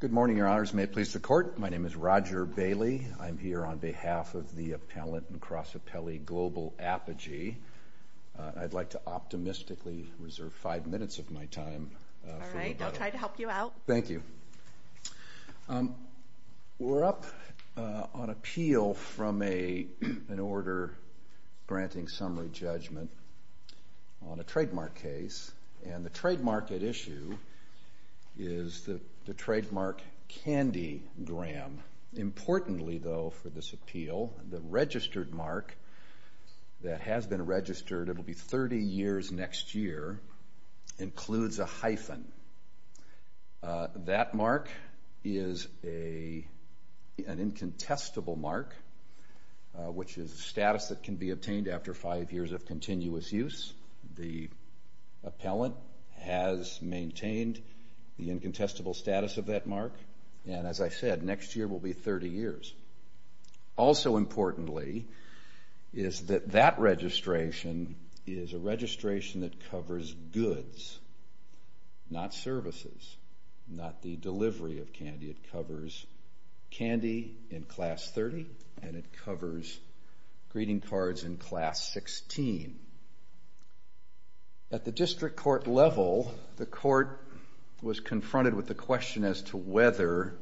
Good morning, Your Honors. May it please the Court. My name is Roger Bailey. I'm here on behalf of the appellant and cross-appellee Global Apogee. I'd like to optimistically reserve five minutes of my time for you. All right. I'll try to help you out. Thank you. We're up on appeal from an order granting summary judgment on a trademark case, and the trademark at issue is the trademark Candy Graham. Importantly, though, for this appeal, the registered mark that has been registered, it'll be 30 years next year, includes a hyphen. That mark is an incontestable mark, which is a status that can be obtained after five years of continuous use. The appellant has maintained the incontestable status of that mark, and as I said, next year will be 30 years. Also, importantly, is that that registration is a registration that covers goods, not services, not the delivery of candy. It covers candy in Class 30, and it covers greeting cards in Class 16. At the district court level, the court was confronted with the question as to whether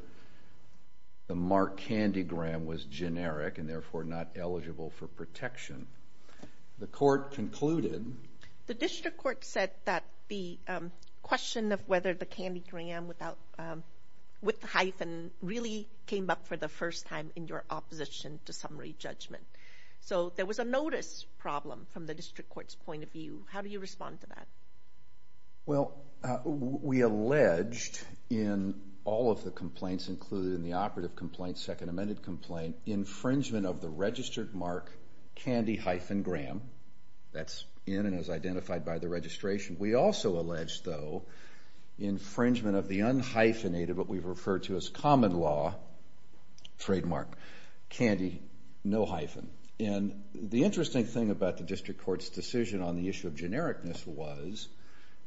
the mark Candy Graham was generic and, therefore, not eligible for protection. The court concluded... The district court said that the question of whether the Candy Graham with the hyphen really came up for the first time in your opposition to summary judgment. There was a notice problem from the district court's point of view. How do you respond to that? Well, we alleged in all of the complaints, including the operative complaint, second amended complaint, infringement of the registered mark Candy hyphen Graham. That's in and is identified by the registration. We also alleged, though, infringement of the unhyphenated, what we've referred to as common law trademark, Candy no hyphen. The interesting thing about the district court's decision on the issue of genericness was,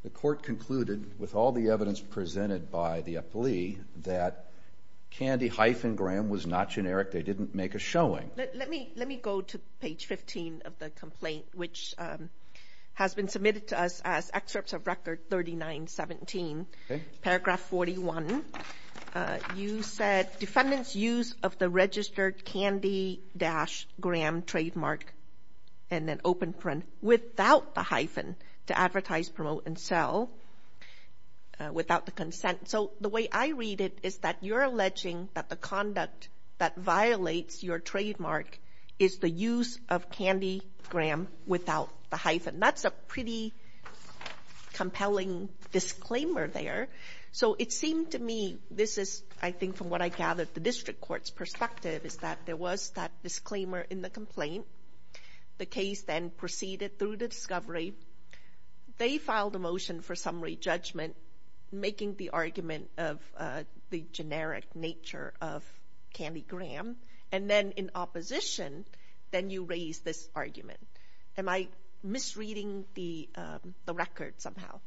the court concluded, with all the evidence presented by the plea, that Candy hyphen Graham was not generic. They didn't make a showing. Let me go to page 15 of the complaint, which has been submitted to us as excerpts of Record 3917, paragraph 41. You said, defendant's use of the registered Candy dash Graham trademark and then open print without the hyphen to advertise, promote, and sell without the consent. So the way I read it is that you're alleging that the conduct that violates your trademark is the use of Candy Graham without the hyphen. That's a pretty compelling disclaimer there. So it seemed to me, this is, I think, from what I gathered, the district court's perspective is that there was that disclaimer in the complaint. The case then proceeded through the discovery. They filed a motion for summary judgment, making the argument of the generic nature of Candy Graham. And then in opposition, then you raise this argument. Am I misreading the record somehow?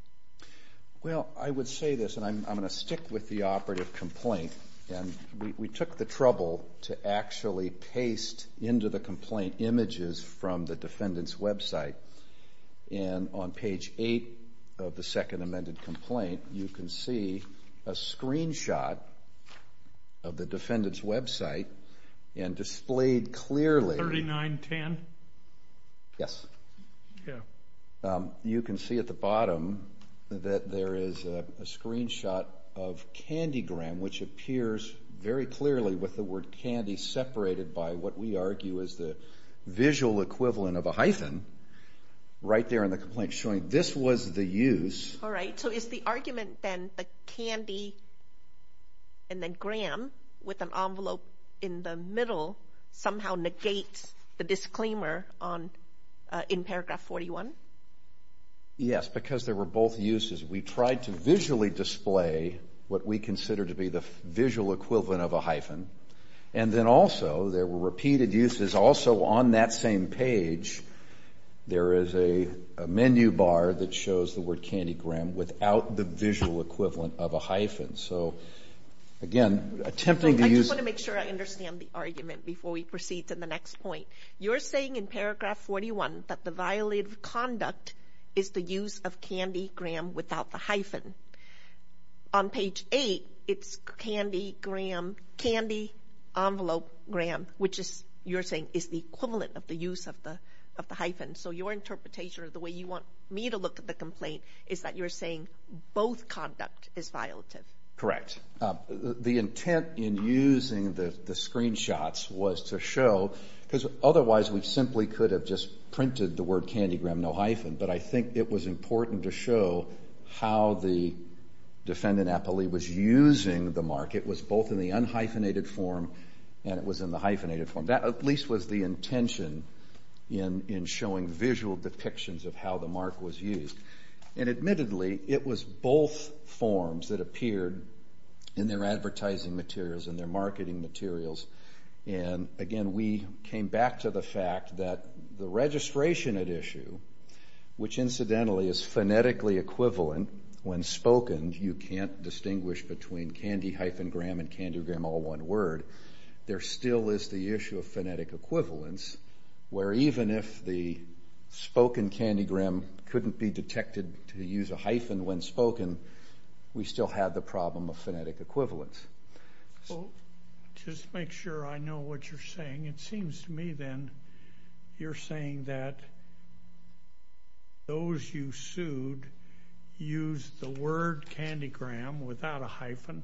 Well, I would say this, and I'm going to stick with the operative complaint, and we took the trouble to actually paste into the complaint images from the defendant's website. And on page eight of the second amended complaint, you can see a screenshot of the defendant's website and displayed clearly. 3910? Yes. Yeah. You can see at the bottom that there is a screenshot of Candy Graham, which appears very clearly with the word candy separated by what we argue is the visual equivalent of a hyphen right there in the complaint, showing this was the use. All right. So is the argument then that Candy and then Graham with an envelope in the middle somehow negate the disclaimer in paragraph 41? Yes, because there were both uses. We tried to visually display what we consider to be the visual equivalent of a hyphen. And then also, there were repeated uses also on that same page. There is a menu bar that shows the word Candy Graham without the visual equivalent of a hyphen. So again, attempting to use... in the next point. You're saying in paragraph 41 that the violative conduct is the use of Candy Graham without the hyphen. On page eight, it's Candy Graham, Candy envelope Graham, which is, you're saying, is the equivalent of the use of the hyphen. So your interpretation of the way you want me to look at the complaint is that you're saying both conduct is violative. Correct. The intent in using the screenshots was to show, because otherwise we simply could have just printed the word Candy Graham, no hyphen. But I think it was important to show how the defendant, Apolli, was using the mark. It was both in the unhyphenated form and it was in the hyphenated form. That at least was the intention in showing visual depictions of how the mark was used. And admittedly, it was both forms that appeared in their advertising materials and their marketing materials. And again, we came back to the fact that the registration at issue, which incidentally is phonetically equivalent when spoken, you can't distinguish between Candy hyphen Graham and Candy Graham, all one word. There still is the issue of phonetic equivalence, where even if the spoken Candy Graham couldn't be detected to use a hyphen when spoken, we still have the problem of phonetic equivalence. Just to make sure I know what you're saying, it seems to me then you're saying that those you sued used the word Candy Graham without a hyphen.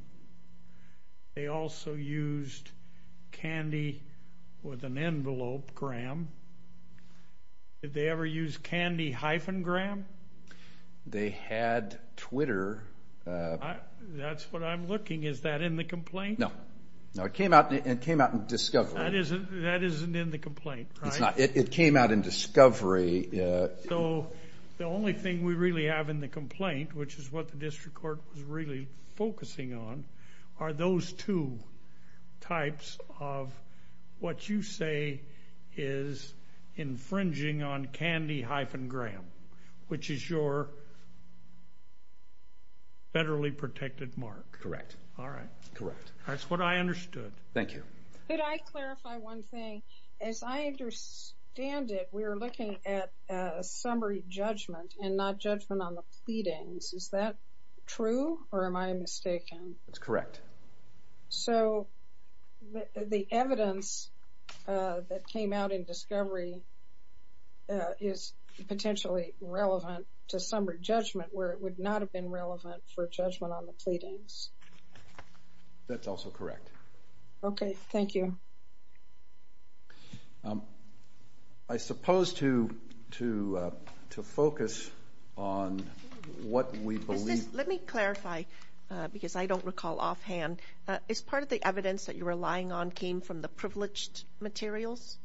They also used Candy with an envelope Graham. Did they ever use Candy hyphen Graham? They had Twitter. That's what I'm looking. Is that in the complaint? No. No, it came out in discovery. That isn't in the complaint, right? It came out in discovery. The only thing we really have in the complaint, which is what the district court was really focusing on, are those two types of what you say is infringing on Candy hyphen Graham, which is your federally protected mark. All right. Correct. That's what I understood. Thank you. Could I clarify one thing? As I understand it, we're looking at a summary judgment and not judgment on the pleadings. Is that true or am I mistaken? That's correct. The evidence that came out in discovery is potentially relevant to summary judgment where it would not have been relevant for judgment on the pleadings. That's also correct. Okay. Thank you. I suppose to focus on what we believe... Let me clarify because I don't recall offhand. Is part of the evidence that you're relying on came from the privileged materials?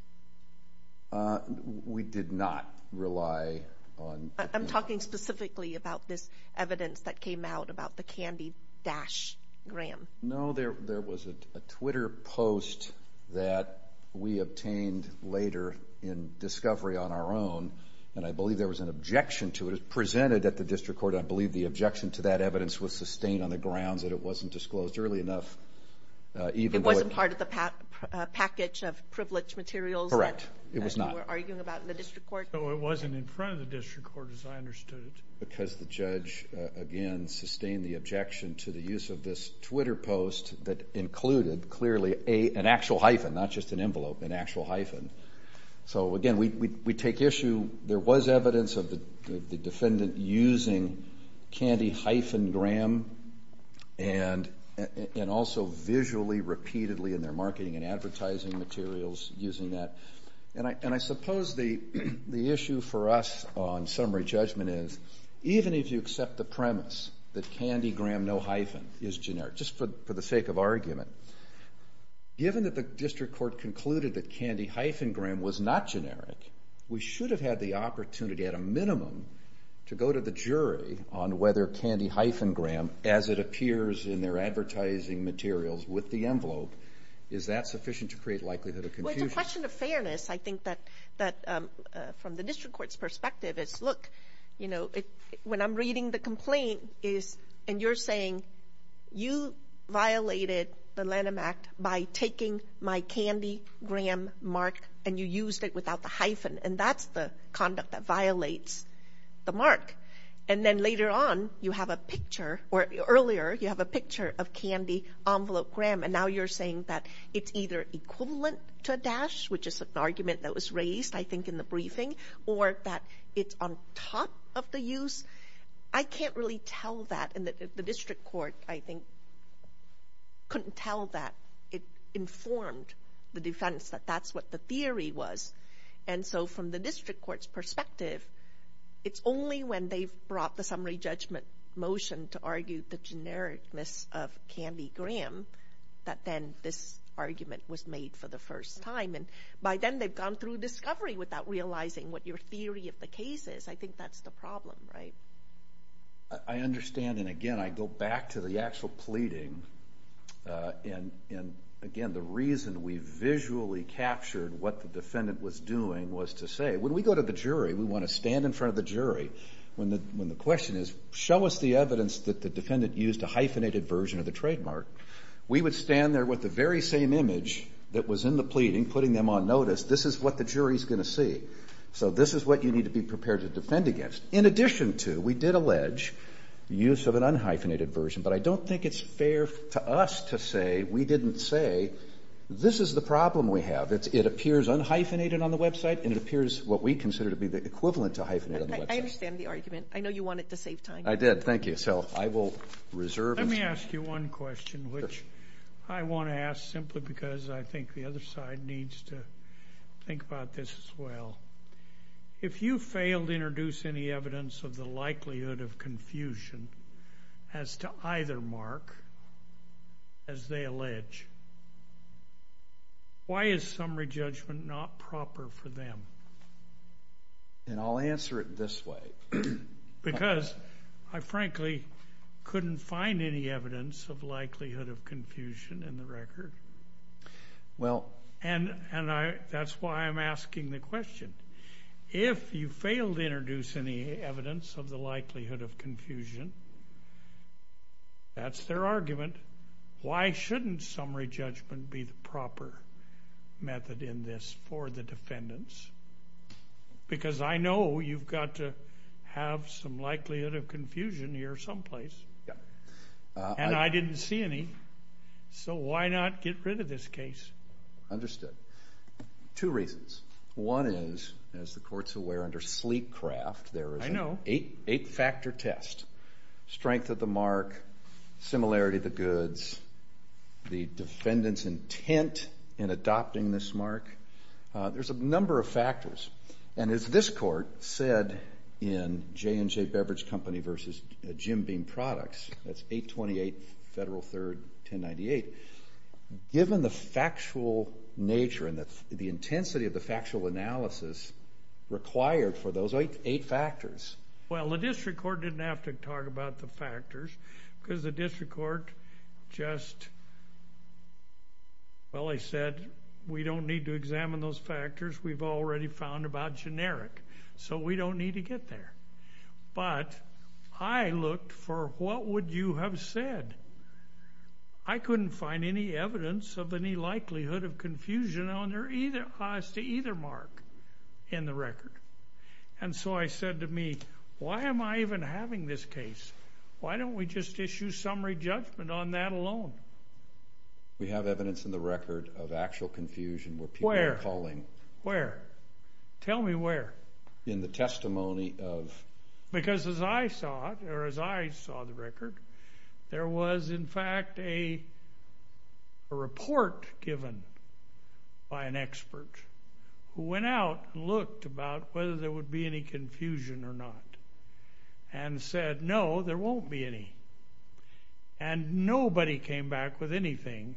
We did not rely on... I'm talking specifically about this evidence that came out about the Candy dash Graham. No, there was a Twitter post that we obtained later in discovery on our own, and I believe there was an objection to it. It was presented at the district court. I believe the objection to that evidence was sustained on the grounds that it wasn't disclosed early enough. It wasn't part of the package of privileged materials that you were arguing about in the district court? It wasn't in front of the district court as I understood it. Because the judge, again, sustained the objection to the use of this Twitter post that included clearly an actual hyphen, not just an envelope, an actual hyphen. So again, we take issue... There was evidence of the defendant using Candy hyphen Graham, and also visually, repeatedly in their marketing and advertising materials using that. And I suppose the issue for us on summary judgment is, even if you accept the premise that Candy Graham, no hyphen, is generic, just for the sake of argument, given that the district court concluded that Candy hyphen Graham was not generic, we should have had the opportunity at a minimum to go to the jury on whether Candy hyphen Graham, as it appears in their advertising materials with the envelope, is that sufficient to create likelihood of confusion? Well, it's a question of fairness. I think that from the district court's perspective, it's, look, you know, when I'm reading the complaint and you're saying, you violated the Lanham Act by taking my Candy Graham mark and you used it without the hyphen, and that's the conduct that violates the mark. And then later on, you have a picture, or earlier, you have a picture of Candy envelope Graham, and now you're saying that it's either equivalent to a dash, which is an argument that was raised, I think, in the briefing, or that it's on top of the use. I can't really tell that, and the district court, I think, couldn't tell that it informed the defense that that's what the theory was. And so from the district court's perspective, it's only when they've brought the summary that then this argument was made for the first time. And by then, they've gone through discovery without realizing what your theory of the case is. I think that's the problem, right? I understand, and again, I go back to the actual pleading, and again, the reason we visually captured what the defendant was doing was to say, when we go to the jury, we want to stand in front of the jury when the question is, show us the evidence that the defendant used a hyphenated version of the trademark. We would stand there with the very same image that was in the pleading, putting them on notice. This is what the jury's going to see. So this is what you need to be prepared to defend against. In addition to, we did allege use of an unhyphenated version, but I don't think it's fair to us to say we didn't say, this is the problem we have. It appears unhyphenated on the website, and it appears what we consider to be the equivalent to hyphenated on the website. I understand the argument. I know you wanted to save time. I did. Thank you. So I will reserve it. Let me ask you one question, which I want to ask simply because I think the other side needs to think about this as well. If you failed to introduce any evidence of the likelihood of confusion as to either mark, as they allege, why is summary judgment not proper for them? And I'll answer it this way. Because I frankly couldn't find any evidence of likelihood of confusion in the record. And that's why I'm asking the question. If you failed to introduce any evidence of the likelihood of confusion, that's their argument. Why shouldn't summary judgment be the proper method in this for the defendants? Because I know you've got to have some likelihood of confusion here someplace. And I didn't see any. So why not get rid of this case? Two reasons. One is, as the court's aware, under Sleekcraft, there is an eight-factor test, strength of the mark, similarity of the goods, the defendant's intent in adopting this mark. There's a number of factors. And as this court said in J&J Beverage Company v. Jim Beam Products, that's 828 Federal 3rd, 1098, given the factual nature and the intensity of the factual analysis required for those eight factors. Well, the district court didn't have to talk about the factors because the district court just, well, they said, we don't need to examine those factors. We've already found about generic. So we don't need to get there. But I looked for what would you have said. I couldn't find any evidence of any likelihood of confusion on either cause to either mark in the record. And so I said to me, why am I even having this case? Why don't we just issue summary judgment on that alone? We have evidence in the record of actual confusion where people are calling. Where? Tell me where. In the testimony of... Because as I saw it, or as I saw the record, there was in fact a report given by an expert who went out and looked about whether there would be any confusion or not and said, no, there won't be any. And nobody came back with anything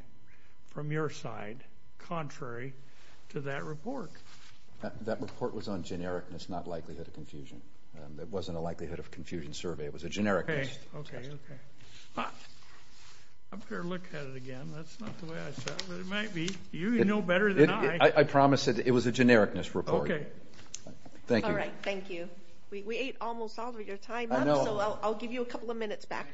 from your side contrary to that report. That report was on generic and it's not likelihood of confusion. It wasn't a likelihood of confusion survey. It was a generic. Okay. Okay. I'm going to look at it again. That's not the way I saw it. But it might be. You know better than I. I promise it. It was a genericness report. Thank you. Thank you. We ate almost all of your time up. So I'll give you a couple of minutes back.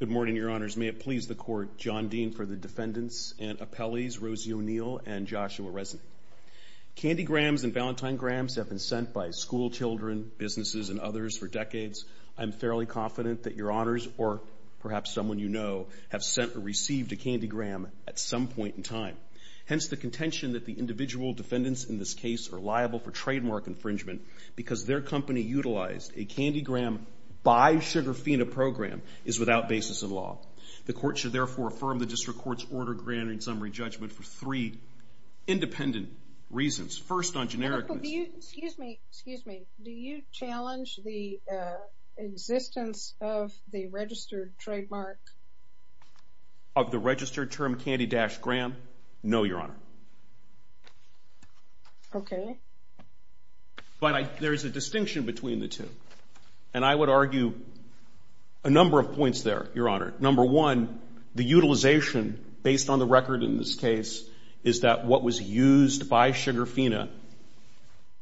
Good morning, Your Honors. May it please the Court, John Dean for the defendants and appellees, Rosie O'Neill and Joshua Resnick. Candy grams and valentine grams have been sent by school children, businesses, and others for decades. I'm fairly confident that Your Honors, or perhaps someone you know, have sent or received a candy gram at some point in time. Hence the contention that the individual defendants in this case are liable for trademark infringement because their company utilized a candy gram by Sugarfina program is without basis in law. The Court should therefore affirm the District Court's order granting summary judgment for three independent reasons. First on genericness. Excuse me. Excuse me. Do you challenge the existence of the registered trademark? Of the registered term candy dash gram? No, Your Honor. Okay. Okay. But there's a distinction between the two. And I would argue a number of points there, Your Honor. Number one, the utilization based on the record in this case is that what was used by Sugarfina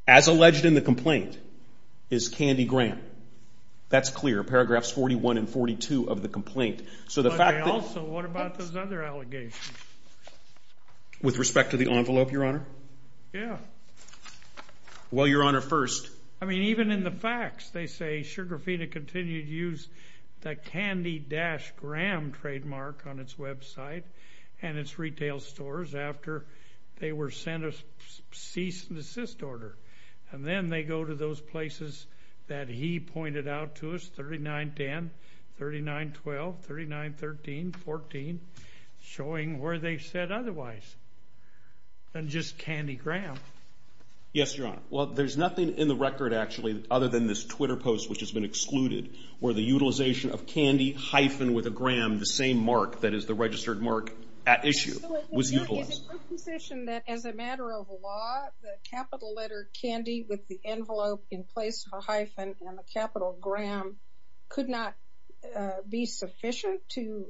as alleged in the complaint is candy gram. That's clear. Paragraphs 41 and 42 of the complaint. So the fact that- Also, what about those other allegations? With respect to the envelope, Your Honor? Yeah. Well, Your Honor, first- I mean, even in the facts, they say Sugarfina continued to use the candy dash gram trademark on its website and its retail stores after they were sent a cease and desist order. And then they go to those places that he pointed out to us, 39-10, 39-12, 39-13, 14, showing where they said otherwise. And just candy gram. Yes, Your Honor. Well, there's nothing in the record, actually, other than this Twitter post, which has been excluded, where the utilization of candy hyphen with a gram, the same mark that is the registered mark at issue, was utilized. So is it your position that as a matter of law, the capital letter candy with the envelope in place of a hyphen and the capital gram could not be sufficient to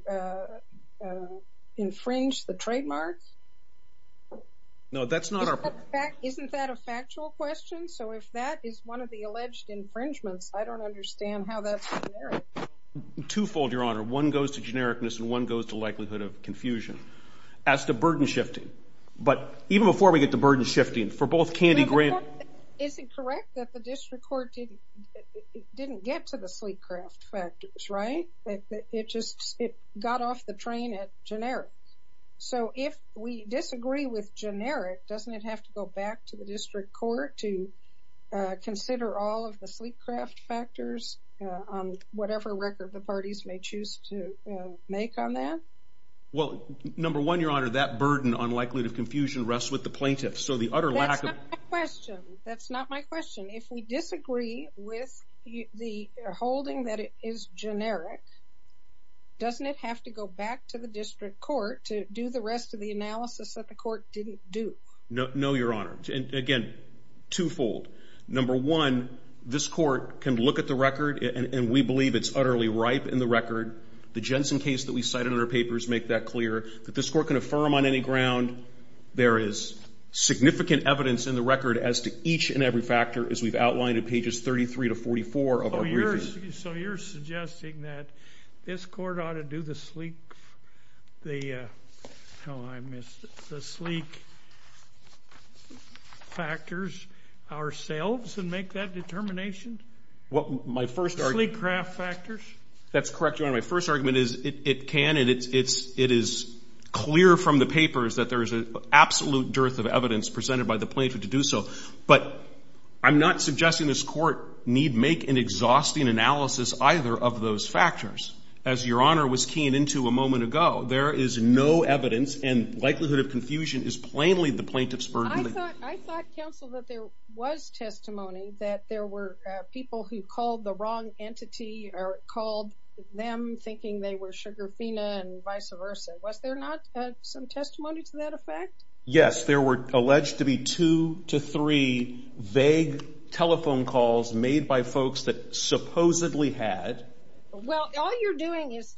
infringe the trademark? No, that's not our- Isn't that a factual question? So if that is one of the alleged infringements, I don't understand how that's generic. Twofold, Your Honor. One goes to genericness, and one goes to likelihood of confusion. As to burden shifting, but even before we get to burden shifting, for both candy gram- Is it correct that the district court didn't get to the sleep craft factors, right? It just got off the train at generic. So if we disagree with generic, doesn't it have to go back to the district court to consider all of the sleep craft factors on whatever record the parties may choose to make on that? Well, number one, Your Honor, that burden on likelihood of confusion rests with the plaintiffs. So the utter lack of- That's not my question. That's not my question. If we disagree with the holding that is generic, doesn't it have to go back to the district court to do the rest of the analysis that the court didn't do? No, Your Honor. Again, twofold. Number one, this court can look at the record, and we believe it's utterly ripe in the record. The Jensen case that we cited in our papers make that clear, that this court can affirm on any ground there is significant evidence in the record as to each and every factor as we've outlined in pages 33 to 44 of our briefings. So you're suggesting that this court ought to do the sleep, the, oh, I missed it, the sleep factors ourselves and make that determination? My first- Sleep craft factors? That's correct, Your Honor. My first argument is it can, and it is clear from the papers that there is an absolute dearth of evidence presented by the plaintiff to do so. But I'm not suggesting this court need make an exhausting analysis either of those factors. As Your Honor was keying into a moment ago, there is no evidence, and likelihood of confusion is plainly the plaintiff's burden. I thought, counsel, that there was testimony that there were people who called the wrong thinking they were sugarfina and vice versa. Was there not some testimony to that effect? Yes. There were alleged to be two to three vague telephone calls made by folks that supposedly had- Well, all you're doing is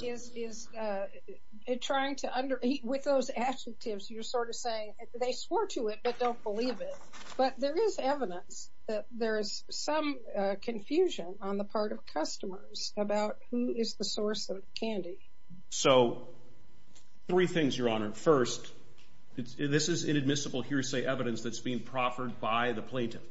trying to under, with those adjectives, you're sort of saying they swore to it but don't believe it. But there is evidence that there is some confusion on the part of customers about who is the source of the candy. So three things, Your Honor. First, this is inadmissible hearsay evidence that's being proffered by the plaintiff.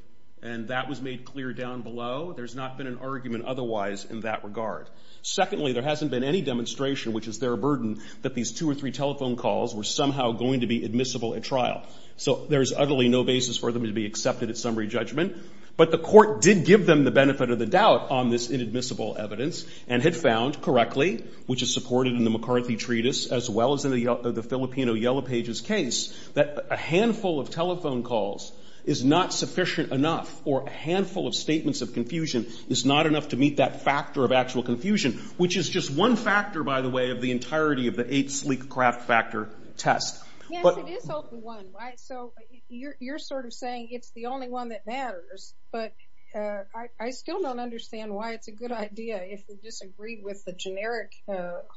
And that was made clear down below. There's not been an argument otherwise in that regard. Secondly, there hasn't been any demonstration, which is their burden, that these two or three telephone calls were somehow going to be admissible at trial. So there's utterly no basis for them to be accepted at summary judgment. But the court did give them the benefit of the doubt on this inadmissible evidence and had found, correctly, which is supported in the McCarthy Treatise as well as in the Filipino Yellow Pages case, that a handful of telephone calls is not sufficient enough or a handful of statements of confusion is not enough to meet that factor of actual confusion, which is just one factor, by the way, of the entirety of the eight sleek craft factor test. Yes, it is open one, right? So you're sort of saying it's the only one that matters, but I still don't understand why it's a good idea if we disagree with the generic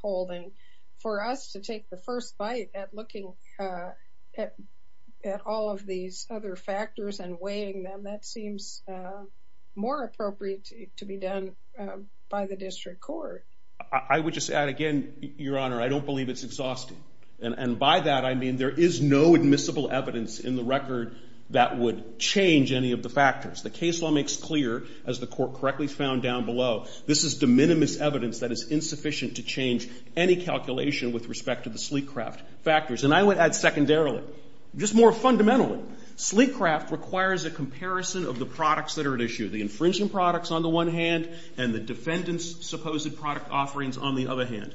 holding. For us to take the first bite at looking at all of these other factors and weighing them, that seems more appropriate to be done by the district court. I would just add again, Your Honor, I don't believe it's exhausting. And by that, I mean there is no admissible evidence in the record that would change any of the factors. The case law makes clear, as the Court correctly found down below, this is de minimis evidence that is insufficient to change any calculation with respect to the sleek craft factors. And I would add secondarily, just more fundamentally, sleek craft requires a comparison of the products that are at issue, the infringing products on the one hand and the defendant's supposed product offerings on the other hand.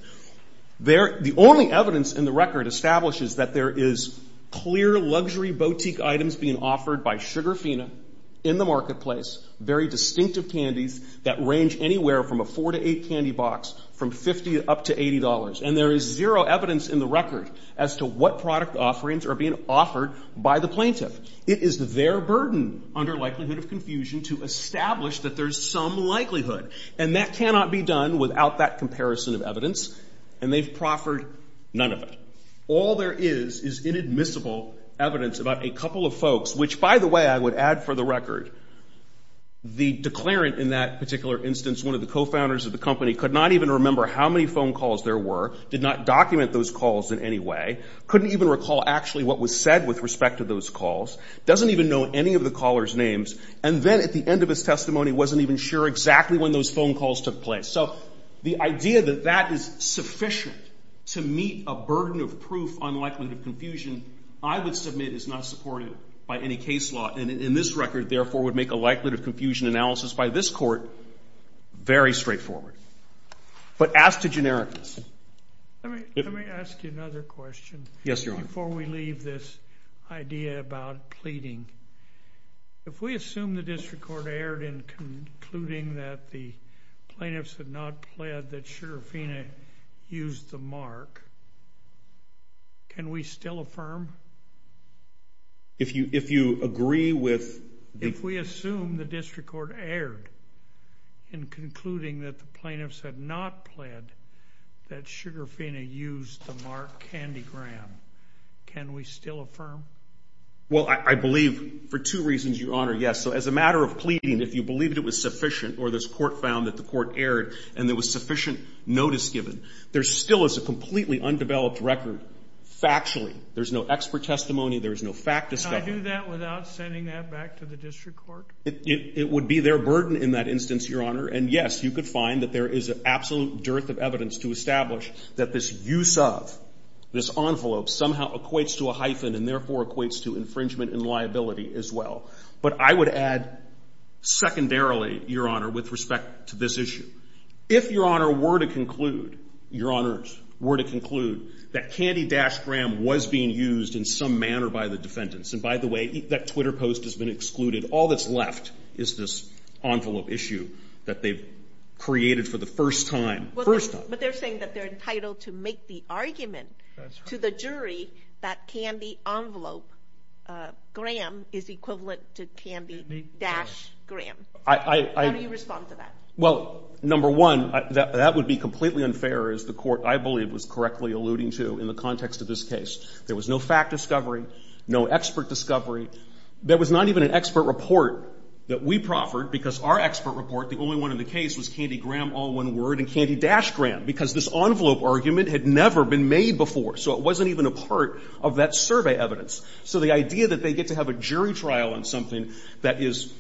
The only evidence in the record establishes that there is clear luxury boutique items being offered by Sugarfina in the marketplace, very distinctive candies that range anywhere from a four to eight candy box from $50 up to $80. And there is zero evidence in the record as to what product offerings are being offered by the plaintiff. It is their burden under likelihood of confusion to establish that there's some likelihood. And that cannot be done without that comparison of evidence. And they've proffered none of it. All there is is inadmissible evidence about a couple of folks, which by the way, I would add for the record, the declarant in that particular instance, one of the cofounders of the company, could not even remember how many phone calls there were, did not document those calls in any way, couldn't even recall actually what was said with respect to those calls, doesn't even know any of the callers' names, and then at the end of his testimony wasn't even sure exactly when those phone calls took place. So the idea that that is sufficient to meet a burden of proof on likelihood of confusion, I would submit is not supported by any case law, and in this record, therefore, would make a likelihood of confusion analysis by this court very straightforward. But as to generics. Let me ask you another question before we leave this idea about pleading. If we assume the district court erred in concluding that the plaintiffs had not pled that Sugarfina used the mark, can we still affirm? If you agree with the... If we assume the district court erred in concluding that the plaintiffs had not pled that Sugarfina used the mark Candy Graham, can we still affirm? Well, I believe for two reasons, Your Honor. Yes. So as a matter of pleading, if you believe it was sufficient or this court found that the court erred and there was sufficient notice given, there still is a completely undeveloped record factually. There's no expert testimony. There is no fact discovery. Can I do that without sending that back to the district court? It would be their burden in that instance, Your Honor. And yes, you could find that there is an absolute dearth of evidence to establish that this use of this envelope somehow equates to a hyphen and therefore equates to infringement and liability as well. But I would add secondarily, Your Honor, with respect to this issue. If Your Honor were to conclude, Your Honors, were to conclude that Candy-Graham was being used in some manner by the defendants, and by the way, that Twitter post has been excluded, all that's left is this envelope issue that they've created for the first time, first time. But they're saying that they're entitled to make the argument to the jury that Candy Envelope-Graham is equivalent to Candy-Graham. How do you respond to that? Well, number one, that would be completely unfair, as the court, I believe, was correctly alluding to in the context of this case. There was no fact discovery, no expert discovery. There was not even an expert report that we proffered, because our expert report, the only one in the case, was Candy-Graham, all one word, and Candy-Graham, because this envelope argument had never been made before. So it wasn't even a part of that survey evidence. So the idea that they get to have a jury trial on something that is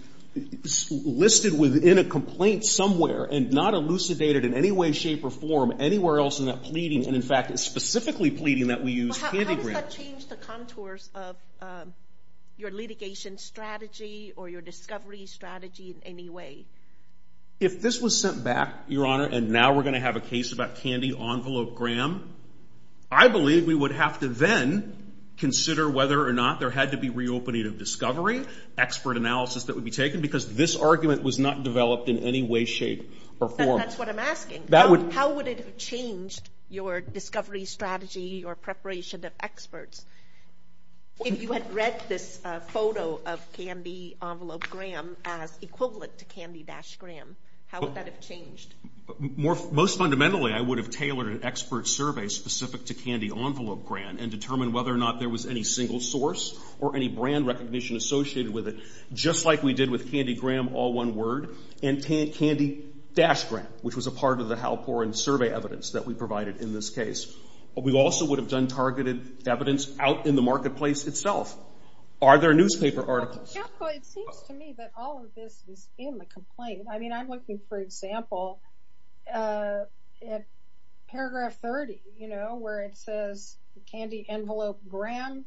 listed within a complaint somewhere and not elucidated in any way, shape, or form anywhere else in that pleading, and in fact, specifically pleading that we use Candy-Graham. Well, how does that change the contours of your litigation strategy or your discovery strategy in any way? If this was sent back, Your Honor, and now we're going to have a case about Candy-Envelope-Graham, I believe we would have to then consider whether or not there had to be reopening of discovery, expert analysis that would be taken, because this argument was not developed in any way, shape, or form. That's what I'm asking. That would... How would it have changed your discovery strategy, your preparation of experts, if you had read this photo of Candy-Envelope-Graham as equivalent to Candy-Graham? How would that have changed? Most fundamentally, I would have tailored an expert survey specific to Candy-Envelope-Graham and determined whether or not there was any single source or any brand recognition associated with it, just like we did with Candy-Graham, all one word, and Candy-Graham, which was a part of the Halporin survey evidence that we provided in this case. We also would have done targeted evidence out in the marketplace itself. Are there newspaper articles? Well, it seems to me that all of this is in the complaint. I mean, I'm looking, for example, at paragraph 30, you know, where it says Candy-Envelope-Graham,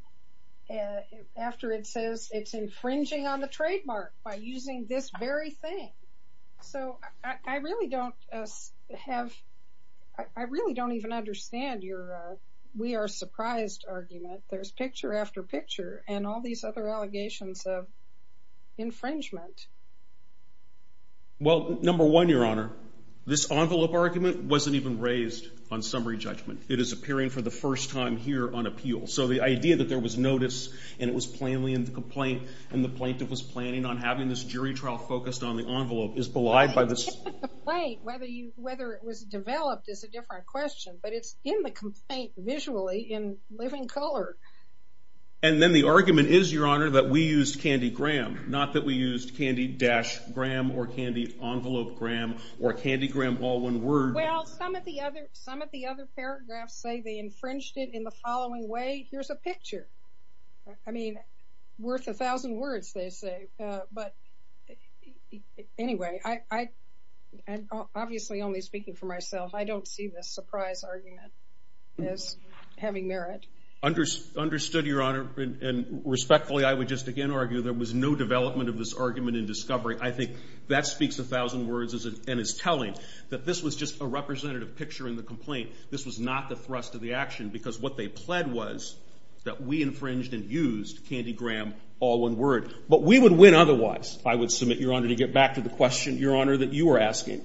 after it says it's infringing on the trademark by using this very thing. So I really don't have... I really don't even understand your we are surprised argument. There's picture after picture and all these other allegations of infringement. Well, number one, Your Honor, this envelope argument wasn't even raised on summary judgment. It is appearing for the first time here on appeal. So the idea that there was notice and it was plainly in the complaint and the plaintiff was planning on having this jury trial focused on the envelope is belied by this... The complaint, whether it was developed is a different question, but it's in the complaint visually in living color. And then the argument is, Your Honor, that we used Candy-Graham, not that we used Candy-Graham or Candy-Envelope-Graham or Candy-Graham, all one word. Well, some of the other paragraphs say they infringed it in the following way. Here's a picture. I mean, worth a thousand words, they say, but anyway, I'm obviously only speaking for myself. I don't see this surprise argument as having merit. Understood, Your Honor, and respectfully, I would just again argue there was no development of this argument in discovery. I think that speaks a thousand words and is telling that this was just a representative picture in the complaint. This was not the thrust of the action because what they pled was that we infringed and used Candy-Graham, all one word. But we would win otherwise, I would submit, Your Honor, to get back to the question, Your Honor, that you were asking.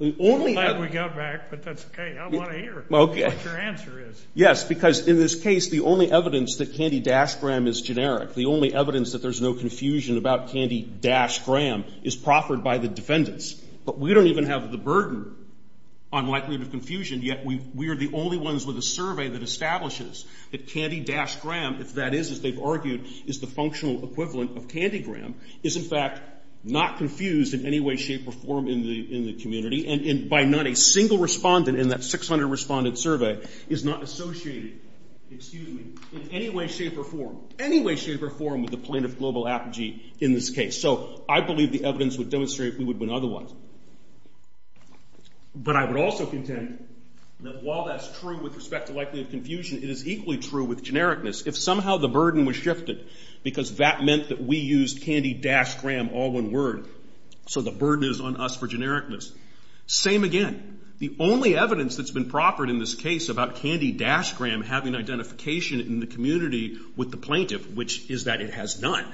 I'm glad we got back, but that's okay. I want to hear what your answer is. Yes, because in this case, the only evidence that Candy-Graham is generic, the only evidence that there's no confusion about Candy-Graham is proffered by the defendants, but we don't even have the burden on likelihood of confusion, yet we are the only ones with a survey that establishes that Candy-Graham, if that is, as they've argued, is the functional equivalent of Candy-Graham, is in fact not confused in any way, shape, or form in the community and by not a single respondent in that 600 respondent survey is not associated, excuse me, in any way, shape, or form, any way, shape, or form with the plaintiff global apogee in this case. So I believe the evidence would demonstrate we would win otherwise, but I would also contend that while that's true with respect to likelihood of confusion, it is equally true with genericness. If somehow the burden was shifted because that meant that we used Candy-Graham, all one word, so the burden is on us for genericness. Same again. The only evidence that's been proffered in this case about Candy-Graham having identification in the community with the plaintiff, which is that it has none,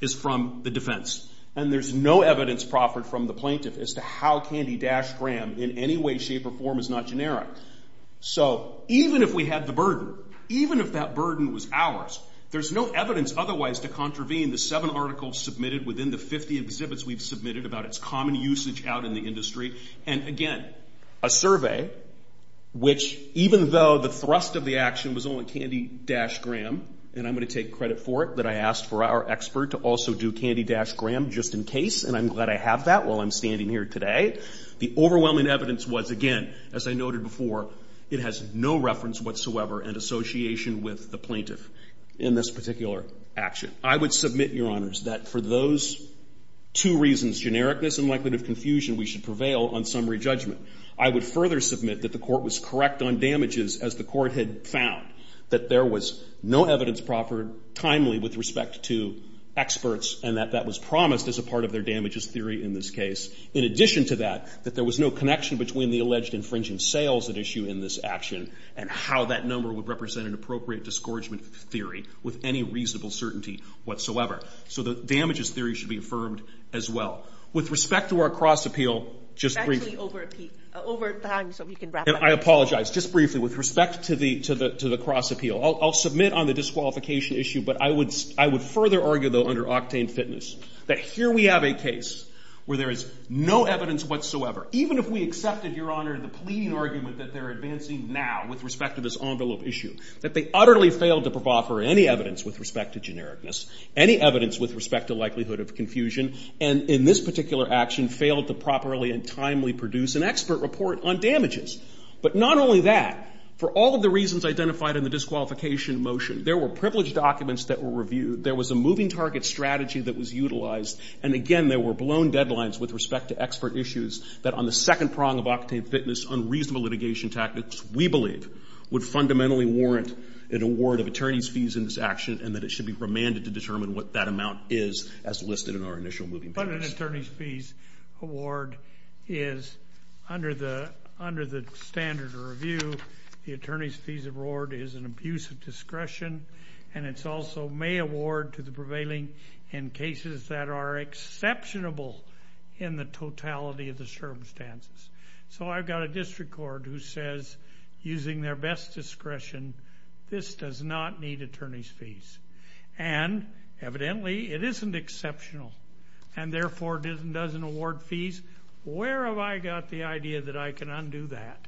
is from the defense, and there's no evidence proffered from the plaintiff as to how Candy-Graham, in any way, shape, or form, is not generic. So even if we had the burden, even if that burden was ours, there's no evidence otherwise to contravene the seven articles submitted within the 50 exhibits we've submitted about its common usage out in the industry, and again, a survey which even though the thrust of the action was only Candy-Graham, and I'm going to take credit for it, that I asked for our expert to also do Candy-Graham just in case, and I'm glad I have that while I'm standing here today. The overwhelming evidence was, again, as I noted before, it has no reference whatsoever in association with the plaintiff in this particular action. I would submit, Your Honors, that for those two reasons, genericness and likelihood of confusion, we should prevail on summary judgment. I would further submit that the court was correct on damages as the court had found, that there was no evidence proffered timely with respect to experts, and that that was promised as a part of their damages theory in this case. In addition to that, that there was no connection between the alleged infringing sales at issue in this action, and how that number would represent an appropriate discouragement theory with any reasonable certainty whatsoever. So the damages theory should be affirmed as well. With respect to our cross-appeal, just briefly. Let me over time so we can wrap up. I apologize. Just briefly. With respect to the cross-appeal, I'll submit on the disqualification issue, but I would further argue, though, under Octane Fitness, that here we have a case where there is no evidence whatsoever, even if we accepted, Your Honor, the pleading argument that they're advancing now with respect to this envelope issue, that they utterly failed to proffer any evidence with respect to genericness, any evidence with respect to likelihood of confusion, and in this particular action, failed to properly and timely produce an expert report on damages. But not only that, for all of the reasons identified in the disqualification motion, there were privileged documents that were reviewed, there was a moving target strategy that was utilized, and again, there were blown deadlines with respect to expert issues that on the second prong of Octane Fitness, unreasonable litigation tactics, we believe, would fundamentally warrant an award of attorney's fees in this action, and that it should be remanded to determine what that amount is as listed in our initial moving targets. But an attorney's fees award is, under the standard of review, the attorney's fees award is an abuse of discretion, and it's also may award to the prevailing in cases that are exceptionable in the totality of the circumstances. So I've got a district court who says, using their best discretion, this does not need attorney's fees, and evidently, it isn't exceptional, and therefore, it doesn't award fees. Where have I got the idea that I can undo that?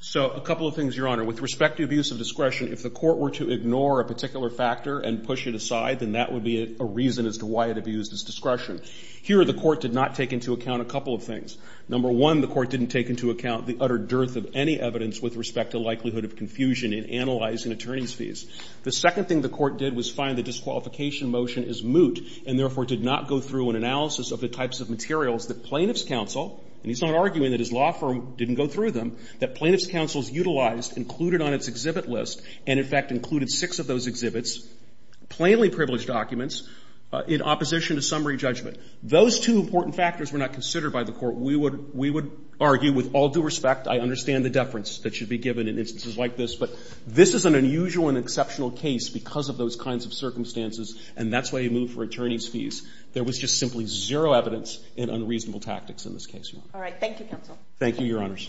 So a couple of things, Your Honor. With respect to abuse of discretion, if the court were to ignore a particular factor and push it aside, then that would be a reason as to why it abused its discretion. Here the court did not take into account a couple of things. Number one, the court didn't take into account the utter dearth of any evidence with respect to likelihood of confusion in analyzing attorney's fees. The second thing the court did was find the disqualification motion is moot and therefore did not go through an analysis of the types of materials that plaintiff's counsel and he's not arguing that his law firm didn't go through them, that plaintiff's counsel's utilized included on its exhibit list and, in fact, included six of those exhibits, plainly privileged documents, in opposition to summary judgment. Those two important factors were not considered by the court. We would argue with all due respect, I understand the deference that should be given in instances like this, but this is an unusual and exceptional case because of those kinds of circumstances and that's why you move for attorney's fees. There was just simply zero evidence in unreasonable tactics in this case, Your Honor. All right. Thank you, counsel. Thank you, Your Honors.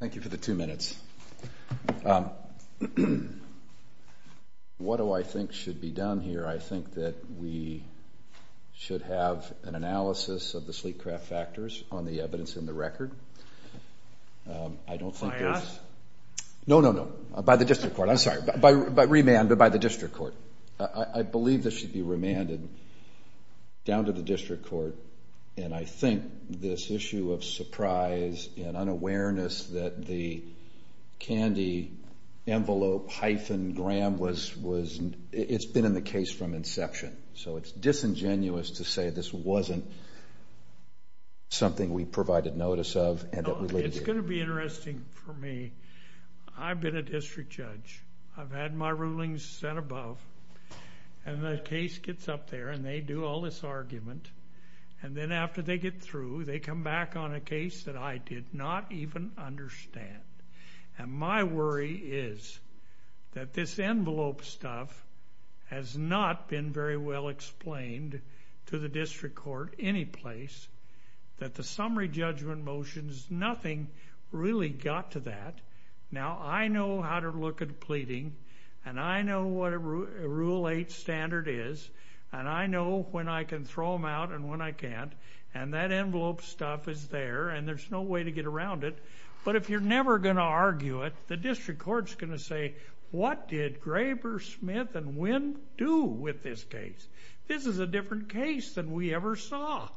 Thank you for the two minutes. What do I think should be done here? I think that we should have an analysis of the sleek craft factors on the evidence in the record. By us? No, no, no. By the district court. I'm sorry. By remand, but by the district court. I believe this should be remanded down to the district court and I think this issue of surprise and unawareness that the candy envelope hyphen gram was... it's been in the case from inception, so it's disingenuous to say this wasn't something we provided notice of and that we... It's going to be interesting for me. I've been a district judge. I've had my rulings set above and the case gets up there and they do all this argument and then after they get through, they come back on a case that I did not even understand. And my worry is that this envelope stuff has not been very well explained to the district court any place, that the summary judgment motions, nothing really got to that. Now I know how to look at pleading and I know what a rule eight standard is and I know when I can throw them out and when I can't and that envelope stuff is there and there's no way to get around it, but if you're never going to argue it, the district court's going to say, what did Graber, Smith and Winn do with this case? This is a different case than we ever saw.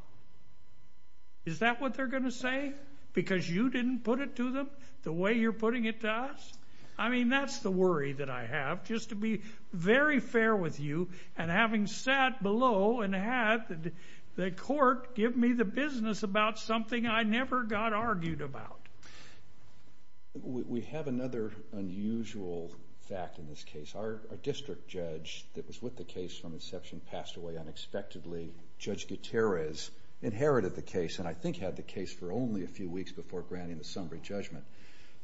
Is that what they're going to say? Because you didn't put it to them the way you're putting it to us? I mean, that's the worry that I have. Just to be very fair with you and having sat below and had the court give me the business about something I never got argued about. We have another unusual fact in this case. Our district judge that was with the case from inception passed away unexpectedly. Judge Gutierrez inherited the case and I think had the case for only a few weeks before granting the summary judgment.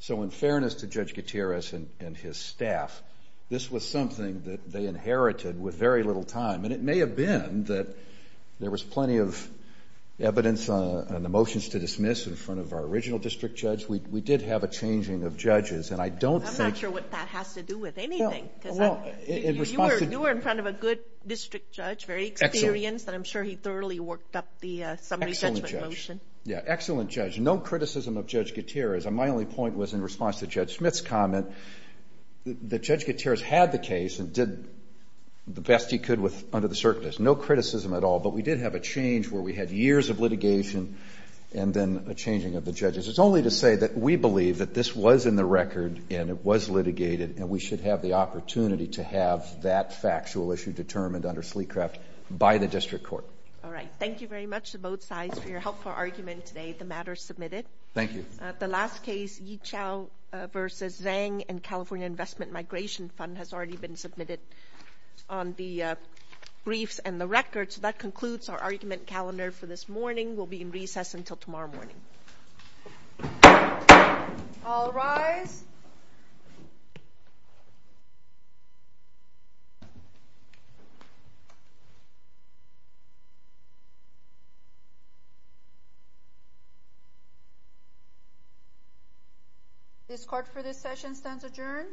So in fairness to Judge Gutierrez and his staff, this was something that they inherited with very little time and it may have been that there was plenty of evidence on the motions to dismiss in front of our original district judge. We did have a changing of judges and I don't think- I'm not sure what that has to do with anything because you were in front of a good district judge, very experienced and I'm sure he thoroughly worked up the summary judgment motion. Excellent judge. No criticism of Judge Gutierrez. My only point was in response to Judge Smith's comment that Judge Gutierrez had the case and did the best he could under the circumstances. No criticism at all, but we did have a change where we had years of litigation and then a changing of the judges. It's only to say that we believe that this was in the record and it was litigated and we should have the opportunity to have that factual issue determined under Sleecraft by the district court. All right. Thank you very much to both sides for your helpful argument today. The matter is submitted. Thank you. The last case, Yichao v. Zhang and California Investment Migration Fund has already been submitted on the briefs and the records. That concludes our argument calendar for this morning. We'll be in recess until tomorrow morning. All rise. The court for this session stands adjourned.